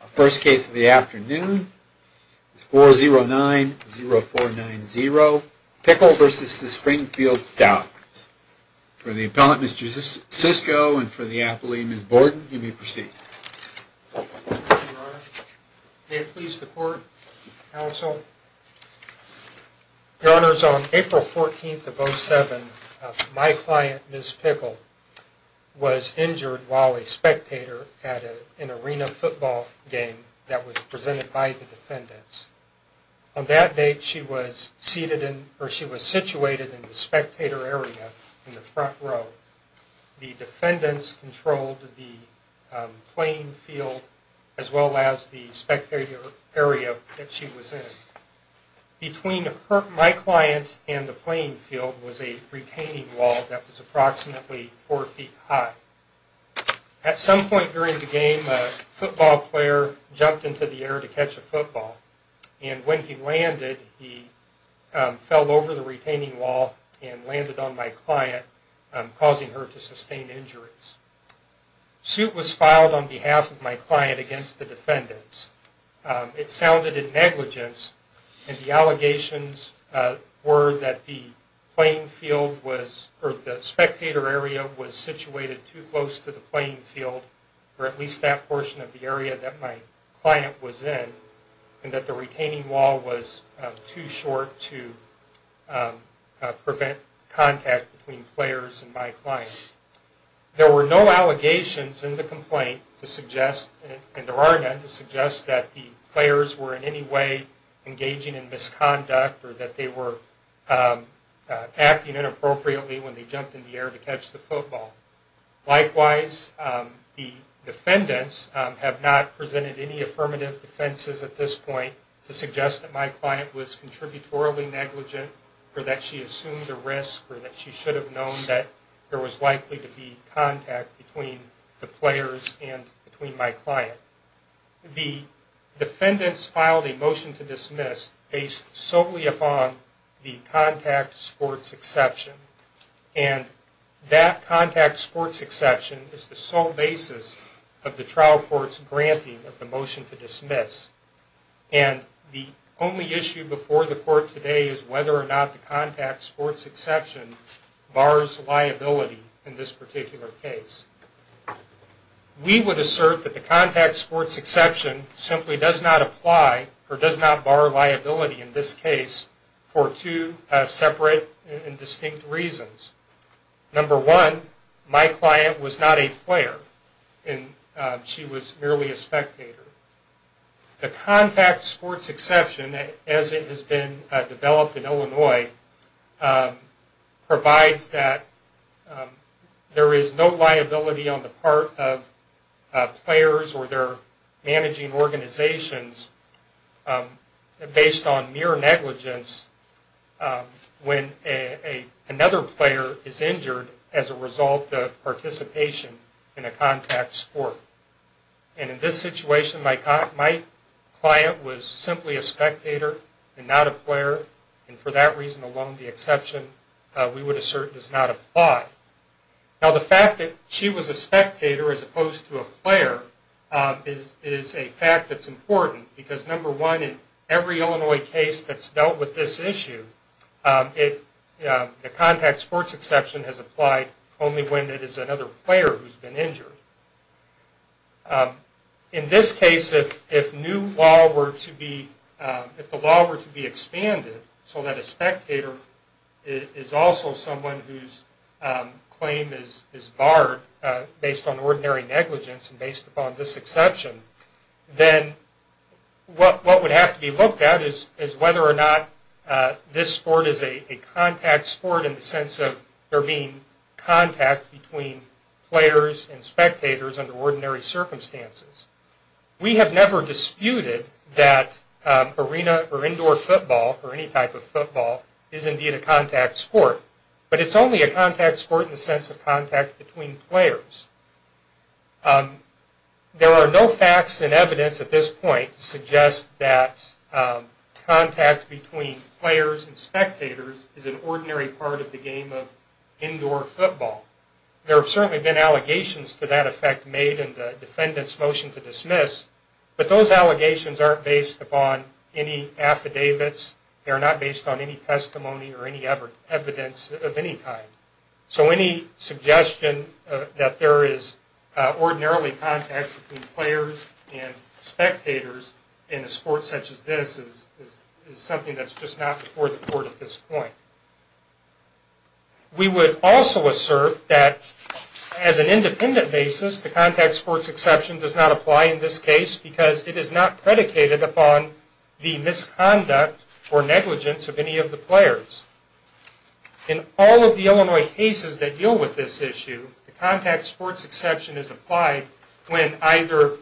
The first case of the afternoon is 4090490 Pickle v. Springfield Stallions. For the appellant, Ms. Sisko, and for the appellee, Ms. Borden, you may proceed. Your Honor, may it please the Court? Counsel, Your Honor, on April 14, 2007, my client, Ms. Pickle, was injured while a spectator at an arena football game that was presented by the defendants. On that date, she was seated in, or she was situated in the spectator area in the front row. The defendants controlled the playing field as well as the spectator area that she was in. Between my client and the playing field was a retaining wall that was approximately four feet high. At some point during the game, a football player jumped into the air to catch a football, and when he landed, he fell over the retaining wall and landed on my client, causing her to sustain injuries. A suit was filed on behalf of my client against the defendants. It sounded in negligence, and the allegations were that the playing field was, or the spectator area was situated too close to the playing field, or at least that portion of the area that my client was in, and that the retaining wall was too short to prevent contact between players and my client. There were no allegations in the complaint to suggest, and there are none, to suggest that the players were in any way engaging in misconduct, or that they were acting inappropriately when they jumped in the air to catch the football. Likewise, the defendants have not presented any affirmative defenses at this point to suggest that my client was contributorily negligent, or that she assumed a risk, or that she should have known that there was likely to be contact between the players and between my client. The defendants filed a motion to dismiss based solely upon the contact sports exception, and that contact sports exception is the sole basis of the trial court's granting of the motion to dismiss. And the only issue before the court today is whether or not the contact sports exception bars liability in this particular case. We would assert that the contact sports exception simply does not apply, or does not bar liability in this case, for two separate and distinct reasons. Number one, my client was not a player, and she was merely a spectator. The contact sports exception, as it has been developed in Illinois, provides that there is no liability on the part of players or their managing organizations based on mere negligence when another player is injured as a result of participation in a contact sport. And in this situation, my client was simply a spectator and not a player, and for that reason alone, the exception we would assert does not apply. Now the fact that she was a spectator as opposed to a player is a fact that's important, because number one, in every Illinois case that's dealt with this issue, the contact sports exception has applied only when it is another player who's been injured. In this case, if new law were to be, if the law were to be expanded so that a spectator is also someone whose claim is barred based on ordinary negligence and based upon this exception, then what would have to be looked at is whether or not this sport is a contact sport in the sense of there being contact between players and spectators under ordinary circumstances. We have never disputed that arena or indoor football or any type of football is indeed a contact sport, but it's only a contact sport in the sense of contact between players. There are no facts and evidence at this point to suggest that contact between players and spectators is an ordinary part of the game of indoor football. There have certainly been allegations to that effect made in the defendant's motion to dismiss, but those allegations aren't based upon any affidavits. They are not based on any testimony or any evidence of any kind. So any suggestion that there is ordinarily contact between players and spectators in a sport such as this is something that's just not before the court at this point. We would also assert that as an independent basis, the contact sports exception does not apply in this case because it is not predicated upon the misconduct or negligence of any of the players. In all of the Illinois cases that deal with this issue, the contact sports exception is applied when either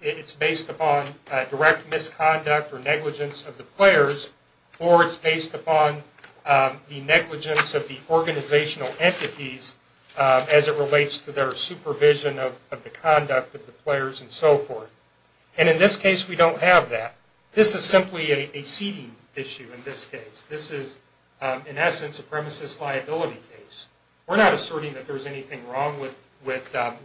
it's based upon direct misconduct or negligence of the players or it's based upon the negligence of the organizational entities as it relates to their supervision of the conduct of the players and so forth. And in this case, we don't have that. This is simply a seating issue in this case. This is, in essence, a premises liability case. We're not asserting that there's anything wrong with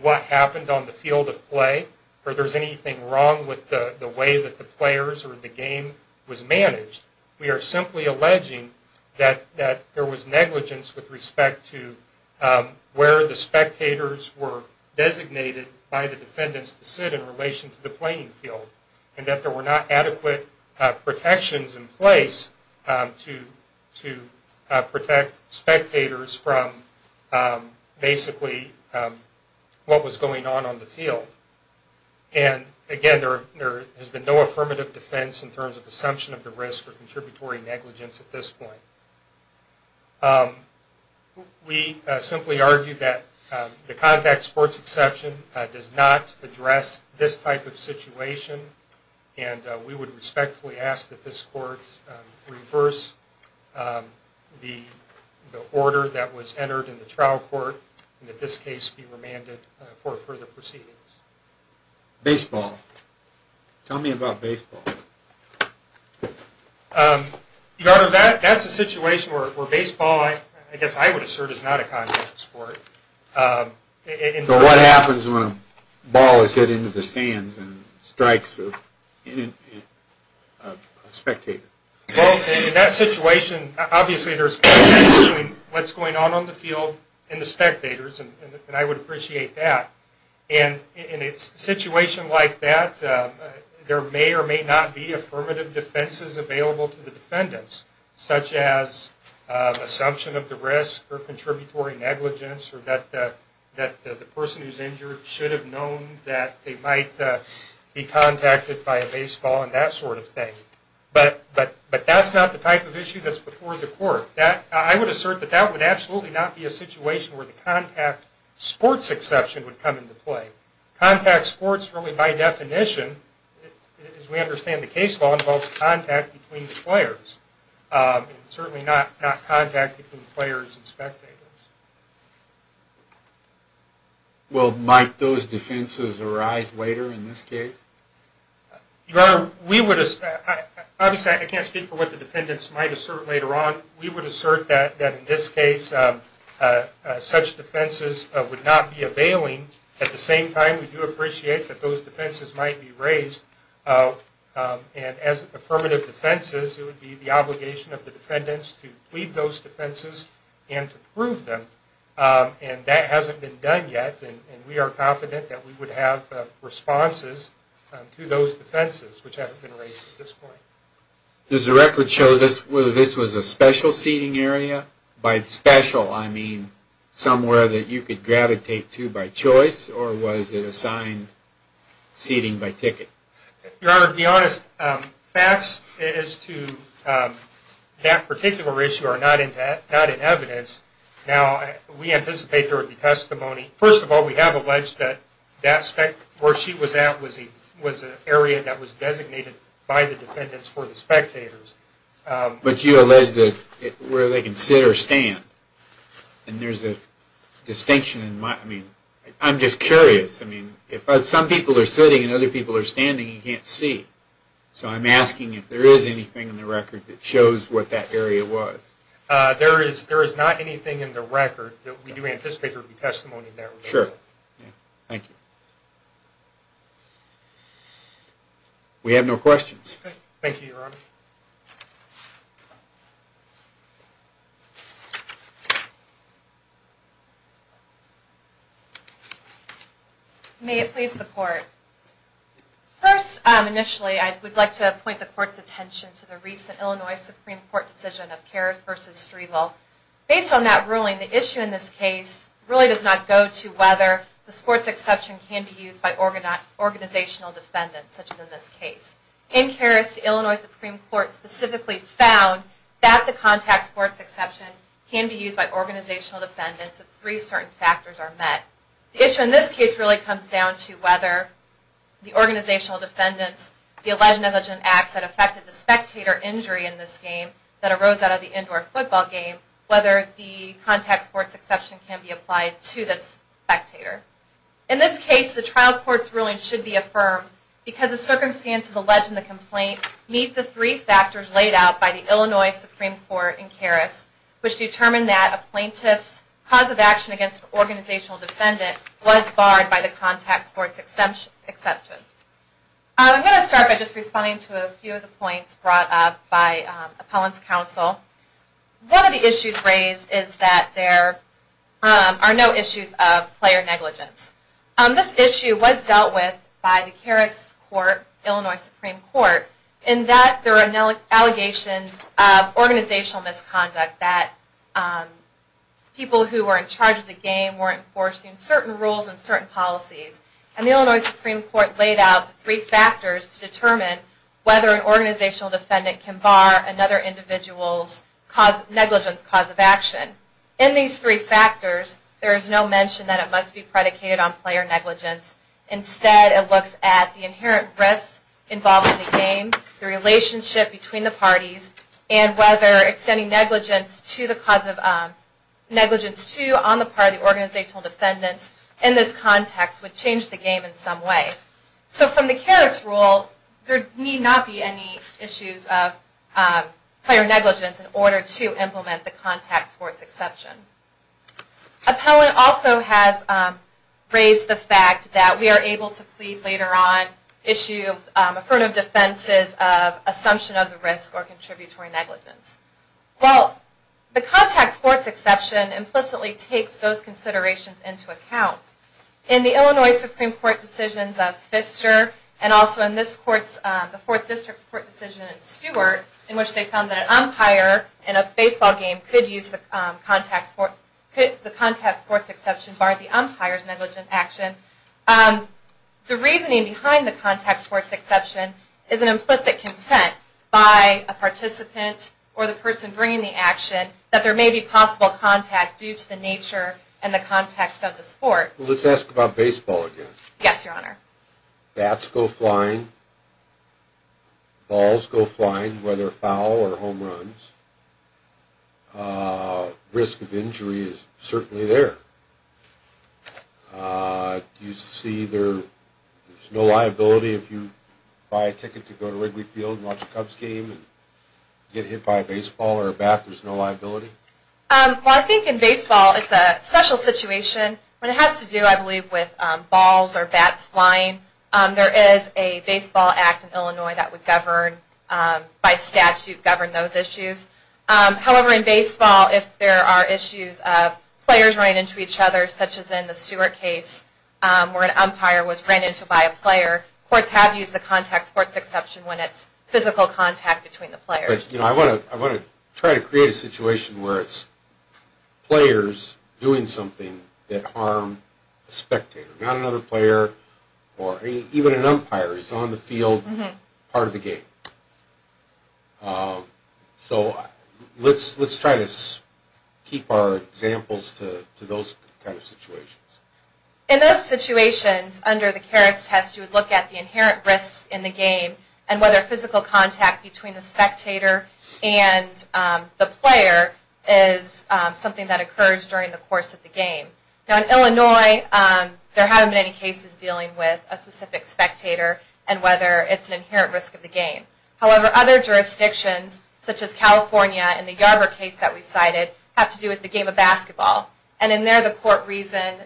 what happened on the field of play or there's anything wrong with the way that the players or the game was managed. We are simply alleging that there was negligence with respect to where the spectators were designated by the defendants to sit in relation to the playing field and that there were not adequate protections in place to protect spectators from basically what was going on on the field. And again, there has been no affirmative defense in terms of assumption of the risk or contributory negligence at this point. We simply argue that the contact sports exception does not address this type of situation and we would respectfully ask that this court reverse the order that was entered in the trial court and that this case be remanded for further proceedings. Baseball. Tell me about baseball. Your Honor, that's a situation where baseball, I guess I would assert, is not a contact sport. So what happens when a ball is hit into the stands and strikes a spectator? Well, in that situation, obviously there's contact between what's going on on the field and the spectators and I would appreciate that. And in a situation like that, there may or may not be affirmative defenses available to the defendants, such as assumption of the risk or contributory negligence or that the person who's injured should have known that they might be contacted by a baseball and that sort of thing. But that's not the type of issue that's before the court. I would assert that that would absolutely not be a situation where the contact sports exception would come into play. Contact sports, really by definition, as we understand the case law, involves contact between the players. Certainly not contact between players and spectators. Well, might those defenses arise later in this case? Your Honor, we would, obviously I can't speak for what the defendants might assert later on. We would assert that in this case, such defenses would not be availing. At the same time, we do appreciate that those defenses might be raised and as affirmative defenses, it would be the obligation of the defendants to plead those defenses and to prove them. And that hasn't been done yet and we are confident that we would have responses to those defenses, which haven't been raised at this point. Does the record show this was a special seating area? By special, I mean somewhere that you could gravitate to by choice or was it assigned seating by ticket? Your Honor, to be honest, facts as to that particular issue are not in evidence. Now, we anticipate there would be testimony. First of all, we have alleged that where she was at was an area that was designated by the defendants for the spectators. But you allege that where they can sit or stand. And there's a distinction in my, I mean, I'm just curious. I mean, if some people are sitting and other people are standing, you can't see. So I'm asking if there is anything in the record that shows what that area was. There is not anything in the record that we do anticipate there would be testimony in that regard. Sure. Thank you. We have no questions. Thank you, Your Honor. May it please the Court. First, initially, I would like to point the Court's attention to the recent Illinois Supreme Court decision of Karras v. Striegel. Based on that ruling, the issue in this case really does not go to whether the sports exception can be used by organizational defendants, such as in this case. In Karras, the Illinois Supreme Court specifically found that the contact sports exception can be used by organizational defendants if three certain factors are met. The issue in this case really comes down to whether the organizational defendants, the alleged negligent acts that affected the spectator injury in this game that arose out of the indoor football game, whether the contact sports exception can be applied to this spectator. In this case, the trial court's ruling should be affirmed because the circumstances alleged in the complaint meet the three factors laid out by the Illinois Supreme Court in Karras, which determined that a plaintiff's cause of action against an organizational defendant was barred by the contact sports exception. I'm going to start by just responding to a few of the points brought up by appellant's counsel. One of the issues raised is that there are no issues of player negligence. This issue was dealt with by the Karras court, Illinois Supreme Court, in that there are allegations of organizational misconduct that people who were in charge of the game weren't enforcing certain rules and certain policies. And the Illinois Supreme Court laid out the three factors to determine whether an organizational defendant can bar another individual's negligence cause of action. In these three factors, there is no mention that it must be predicated on player negligence. Instead, it looks at the inherent risks involved in the game, the relationship between the parties, and whether extending negligence to on the part of the organizational defendants in this context would change the game in some way. So from the Karras rule, there need not be any issues of player negligence in order to implement the contact sports exception. Appellant also has raised the fact that we are able to plead later on issue affirmative defenses of assumption of the risk or contributory negligence. While the contact sports exception implicitly takes those considerations into account, in the Illinois Supreme Court decisions of Pfister and also in the Fourth District Court decision in Stewart in which they found that an umpire in a baseball game could use the contact sports exception bar the umpire's negligent action, the reasoning behind the contact sports exception is an implicit consent by a participant or the person bringing the action that there may be possible contact due to the nature and the context of the sport. Let's ask about baseball again. Yes, Your Honor. Bats go flying. Balls go flying, whether foul or home runs. Risk of injury is certainly there. You see there's no liability if you buy a ticket to go to Wrigley Field There's no liability? I think in baseball it's a special situation. It has to do, I believe, with balls or bats flying. There is a baseball act in Illinois that would govern, by statute, govern those issues. However, in baseball, if there are issues of players running into each other such as in the Stewart case where an umpire was run into by a player, courts have used the contact sports exception when it's physical contact between the players. I want to try to create a situation where it's players doing something that harmed a spectator, not another player or even an umpire who's on the field part of the game. So let's try to keep our examples to those kind of situations. In those situations, under the Karas test, you would look at the inherent risks in the game and whether physical contact between the spectator and the player is something that occurs during the course of the game. Now in Illinois, there haven't been any cases dealing with a specific spectator and whether it's an inherent risk of the game. However, other jurisdictions, such as California in the Yarbor case that we cited, have to do with the game of basketball. And in there, the court reasoned,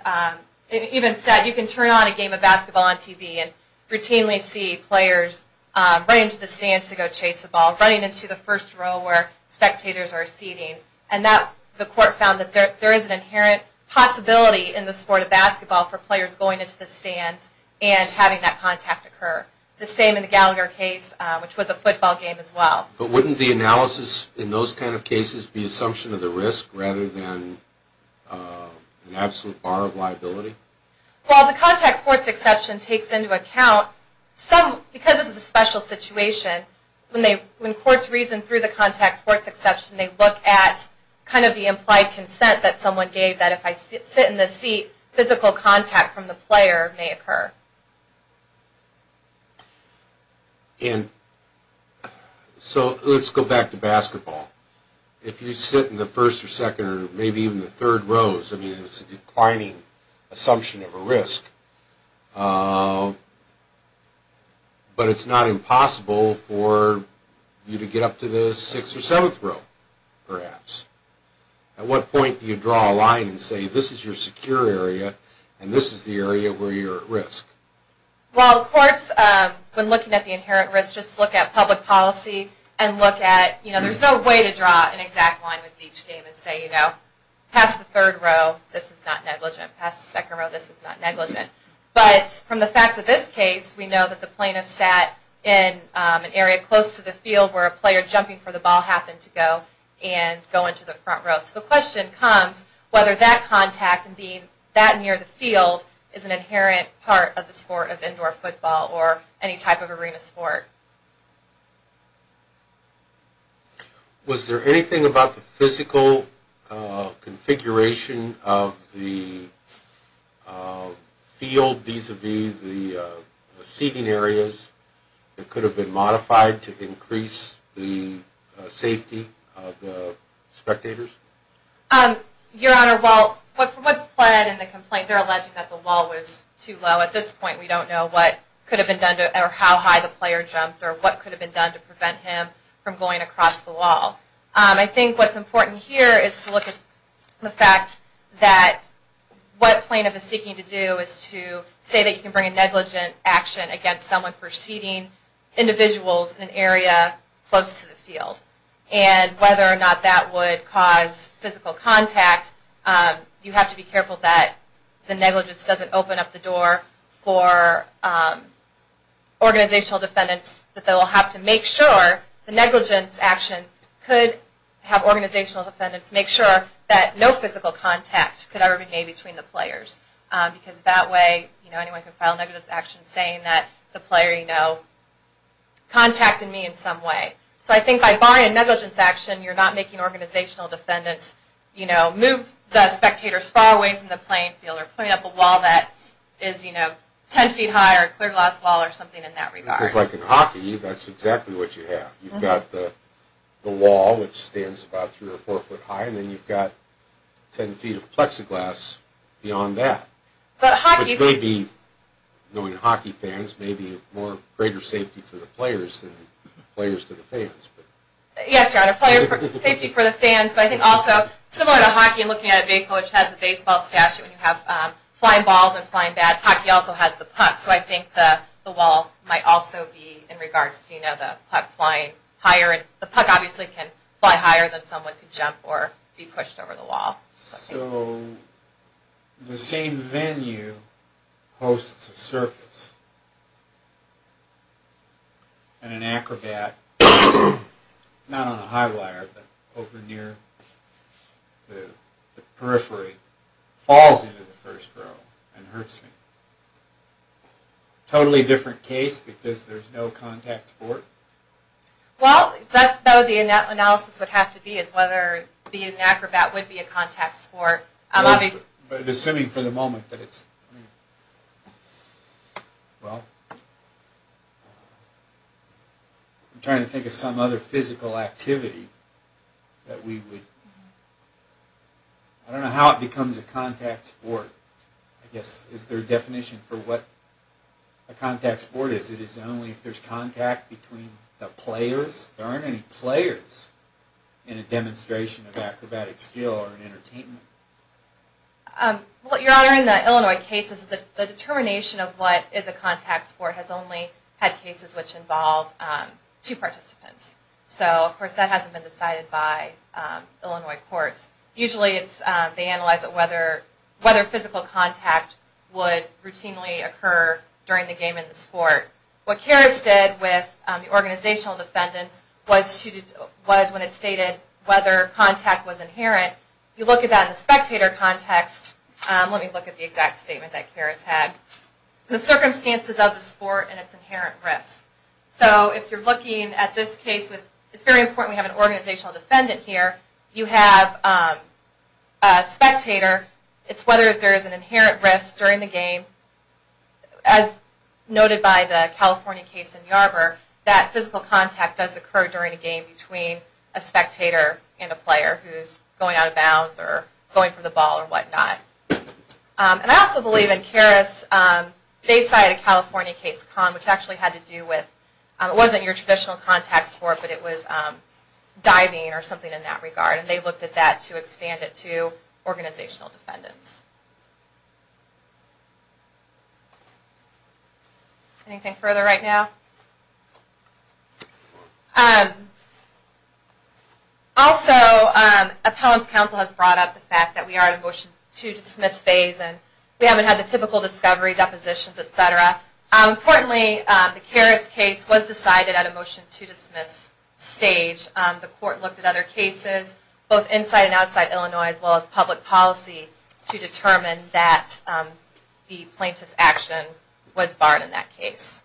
it even said, you can turn on a game of basketball on TV and routinely see players running to the stands to go chase the ball, running into the first row where spectators are seating. And the court found that there is an inherent possibility in the sport of basketball for players going into the stands and having that contact occur. The same in the Gallagher case, which was a football game as well. But wouldn't the analysis in those kind of cases be an assumption of the risk rather than an absolute bar of liability? Well, the contact sports exception takes into account because this is a special situation, when courts reason through the contact sports exception they look at kind of the implied consent that someone gave that if I sit in the seat, physical contact from the player may occur. So let's go back to basketball. If you sit in the first or second or maybe even the third rows, it's a declining assumption of a risk. But it's not impossible for you to get up to the 6th or 7th row, perhaps. At what point do you draw a line and say, this is your secure area and this is the area where you're at risk? Well, of course, when looking at the inherent risk, just look at public policy and look at, there's no way to draw an exact line with each game and say, pass the third row, this is not negligent. Pass the second row, this is not negligent. But from the facts of this case, we know that the plaintiff sat in an area close to the field where a player jumping for the ball happened to go and go into the front row. So the question comes, whether that contact and being that near the field is an inherent part of the sport of indoor football or any type of arena sport. Was there anything about the physical configuration of the field vis-a-vis the seating areas that could have been modified to increase the safety of the spectators? Your Honor, well, what's pled in the complaint, they're alleging that the wall was too low. At this point, we don't know what could have been done or how high the player jumped. Or what could have been done to prevent him from going across the wall. I think what's important here is to look at the fact that what a plaintiff is seeking to do is to say that you can bring a negligent action against someone for seating individuals in an area close to the field. And whether or not that would cause physical contact, you have to be careful that the negligence doesn't open up the door for organizational defendants that they'll have to make sure the negligence action could have organizational defendants make sure that no physical contact could ever be made between the players. Because that way, anyone could file a negligence action saying that the player, you know, contacted me in some way. So I think by buying a negligence action, you're not making organizational defendants move the spectators far away from the playing field or putting up a wall that is 10 feet high or a clear glass wall or something in that regard. Because like in hockey, that's exactly what you have. You've got the wall, which stands about 3 or 4 foot high and then you've got 10 feet of plexiglass beyond that. Which may be, knowing hockey fans, may be more greater safety for the players than players to the fans. Yes, Your Honor, safety for the fans, but I think also similar to hockey, looking at a baseball, which has a baseball statue and you have flying balls and flying bats, hockey also has the puck. So I think the wall might also be in regards to, you know, the puck flying higher. The puck obviously can fly higher than someone could jump or be pushed over the wall. So the same venue hosts a circus and an acrobat, not on a high wire, but over near the periphery, falls into the first row and hurts me. Totally different case because there's no contact sport? Well, that's about the analysis would have to be is whether being an acrobat would be a contact sport. I'm assuming for the moment that it's... I'm trying to think of some other physical activity that we would... I don't know how it becomes a contact sport. I guess, is there a definition for what a contact sport is? Is it only if there's contact between the players? There aren't any players in a demonstration of acrobatic skill or entertainment. Well, Your Honor, in the Illinois cases, the determination of what is a contact sport has only had cases which involve two participants. So, of course, that hasn't been decided by Illinois courts. Usually they analyze whether physical contact would routinely occur during the game and the sport. What Karras did with the organizational defendants was when it stated whether contact was inherent. You look at that in the spectator context. Let me look at the exact statement that Karras had. The circumstances of the sport and its inherent risks. So if you're looking at this case with... a spectator, it's whether there is an inherent risk during the game. As noted by the California case in Yarbor, that physical contact does occur during a game between a spectator and a player who's going out of bounds or going for the ball or whatnot. And I also believe in Karras, they cited a California case, which actually had to do with... It wasn't your traditional contact sport, but it was diving or something in that regard. And they looked at that to expand it to organizational defendants. Anything further right now? Also, appellant's counsel has brought up the fact that we are in a motion to dismiss phase and we haven't had the typical discovery, depositions, etc. Importantly, the Karras case was decided at a motion to dismiss stage. The court looked at other cases, both inside and outside Illinois, as well as public policy, to determine that the plaintiff's action was barred in that case.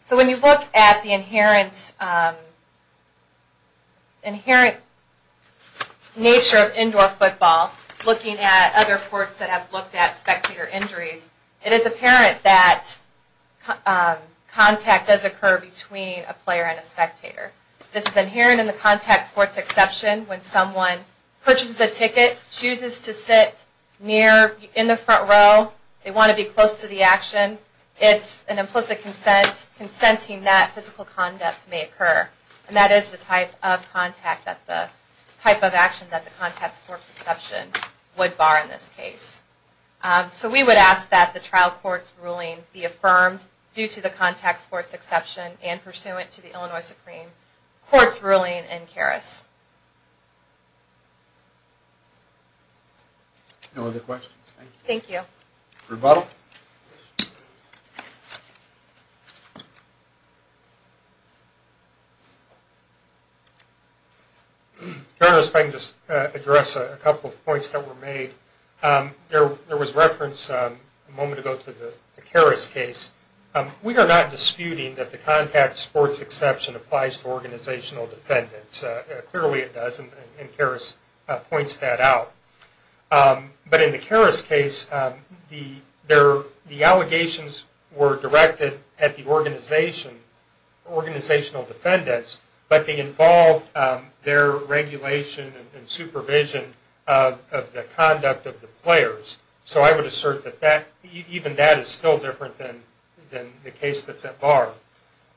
So when you look at the inherent... nature of indoor football, looking at other courts that have looked at spectator injuries, it is apparent that contact does occur between a player and a spectator. This is inherent in the contact sports exception when someone purchases a ticket, chooses to sit in the front row, they want to be close to the action. It's an implicit consent, consenting that physical conduct may occur. And that is the type of action that the contact sports exception would bar in this case. So we would ask that the trial court's ruling be affirmed due to the contact sports exception and pursuant to the Illinois Supreme Court's ruling in Karras. Thank you. Rebuttal. General, if I can just address a couple of points that were made. There was reference a moment ago to the Karras case. We are not disputing that the contact sports exception applies to organizational defendants. Clearly it does, and Karras points that out. But in the Karras case, the allegations were directed at the organizational defendants, but they involved their regulation and supervision of the conduct of the players. So I would assert that even that is still different than the case that's at bar.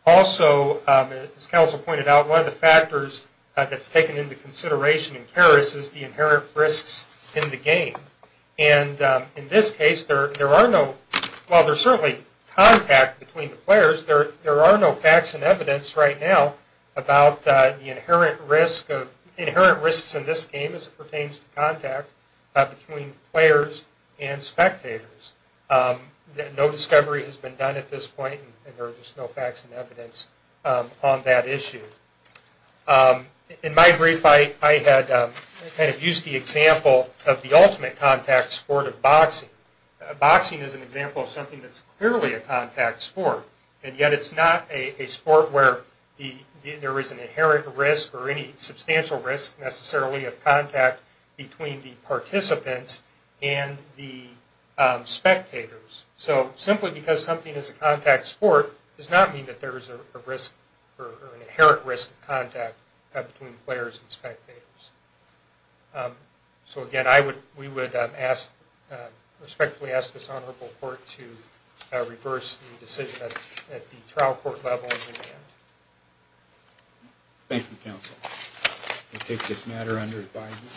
Also, as counsel pointed out, one of the factors that's taken into consideration in Karras is the inherent risks in the game. And in this case, while there's certainly contact between the players, there are no facts and evidence right now about the inherent risks in this game as it pertains to contact between players and spectators. No discovery has been done at this point and there's just no facts and evidence on that issue. In my brief, I had used the example of the ultimate contact sport of boxing. Boxing is an example of something that's clearly a contact sport, and yet it's not a sport where there is an inherent risk or any substantial risk necessarily of contact between the participants and the spectators. So simply because something is a contact sport does not mean that there is an inherent risk of contact between players and spectators. So again, we would respectfully ask this Honorable Court to reverse the decision at the trial court level. Thank you, counsel. I take this matter under advisement.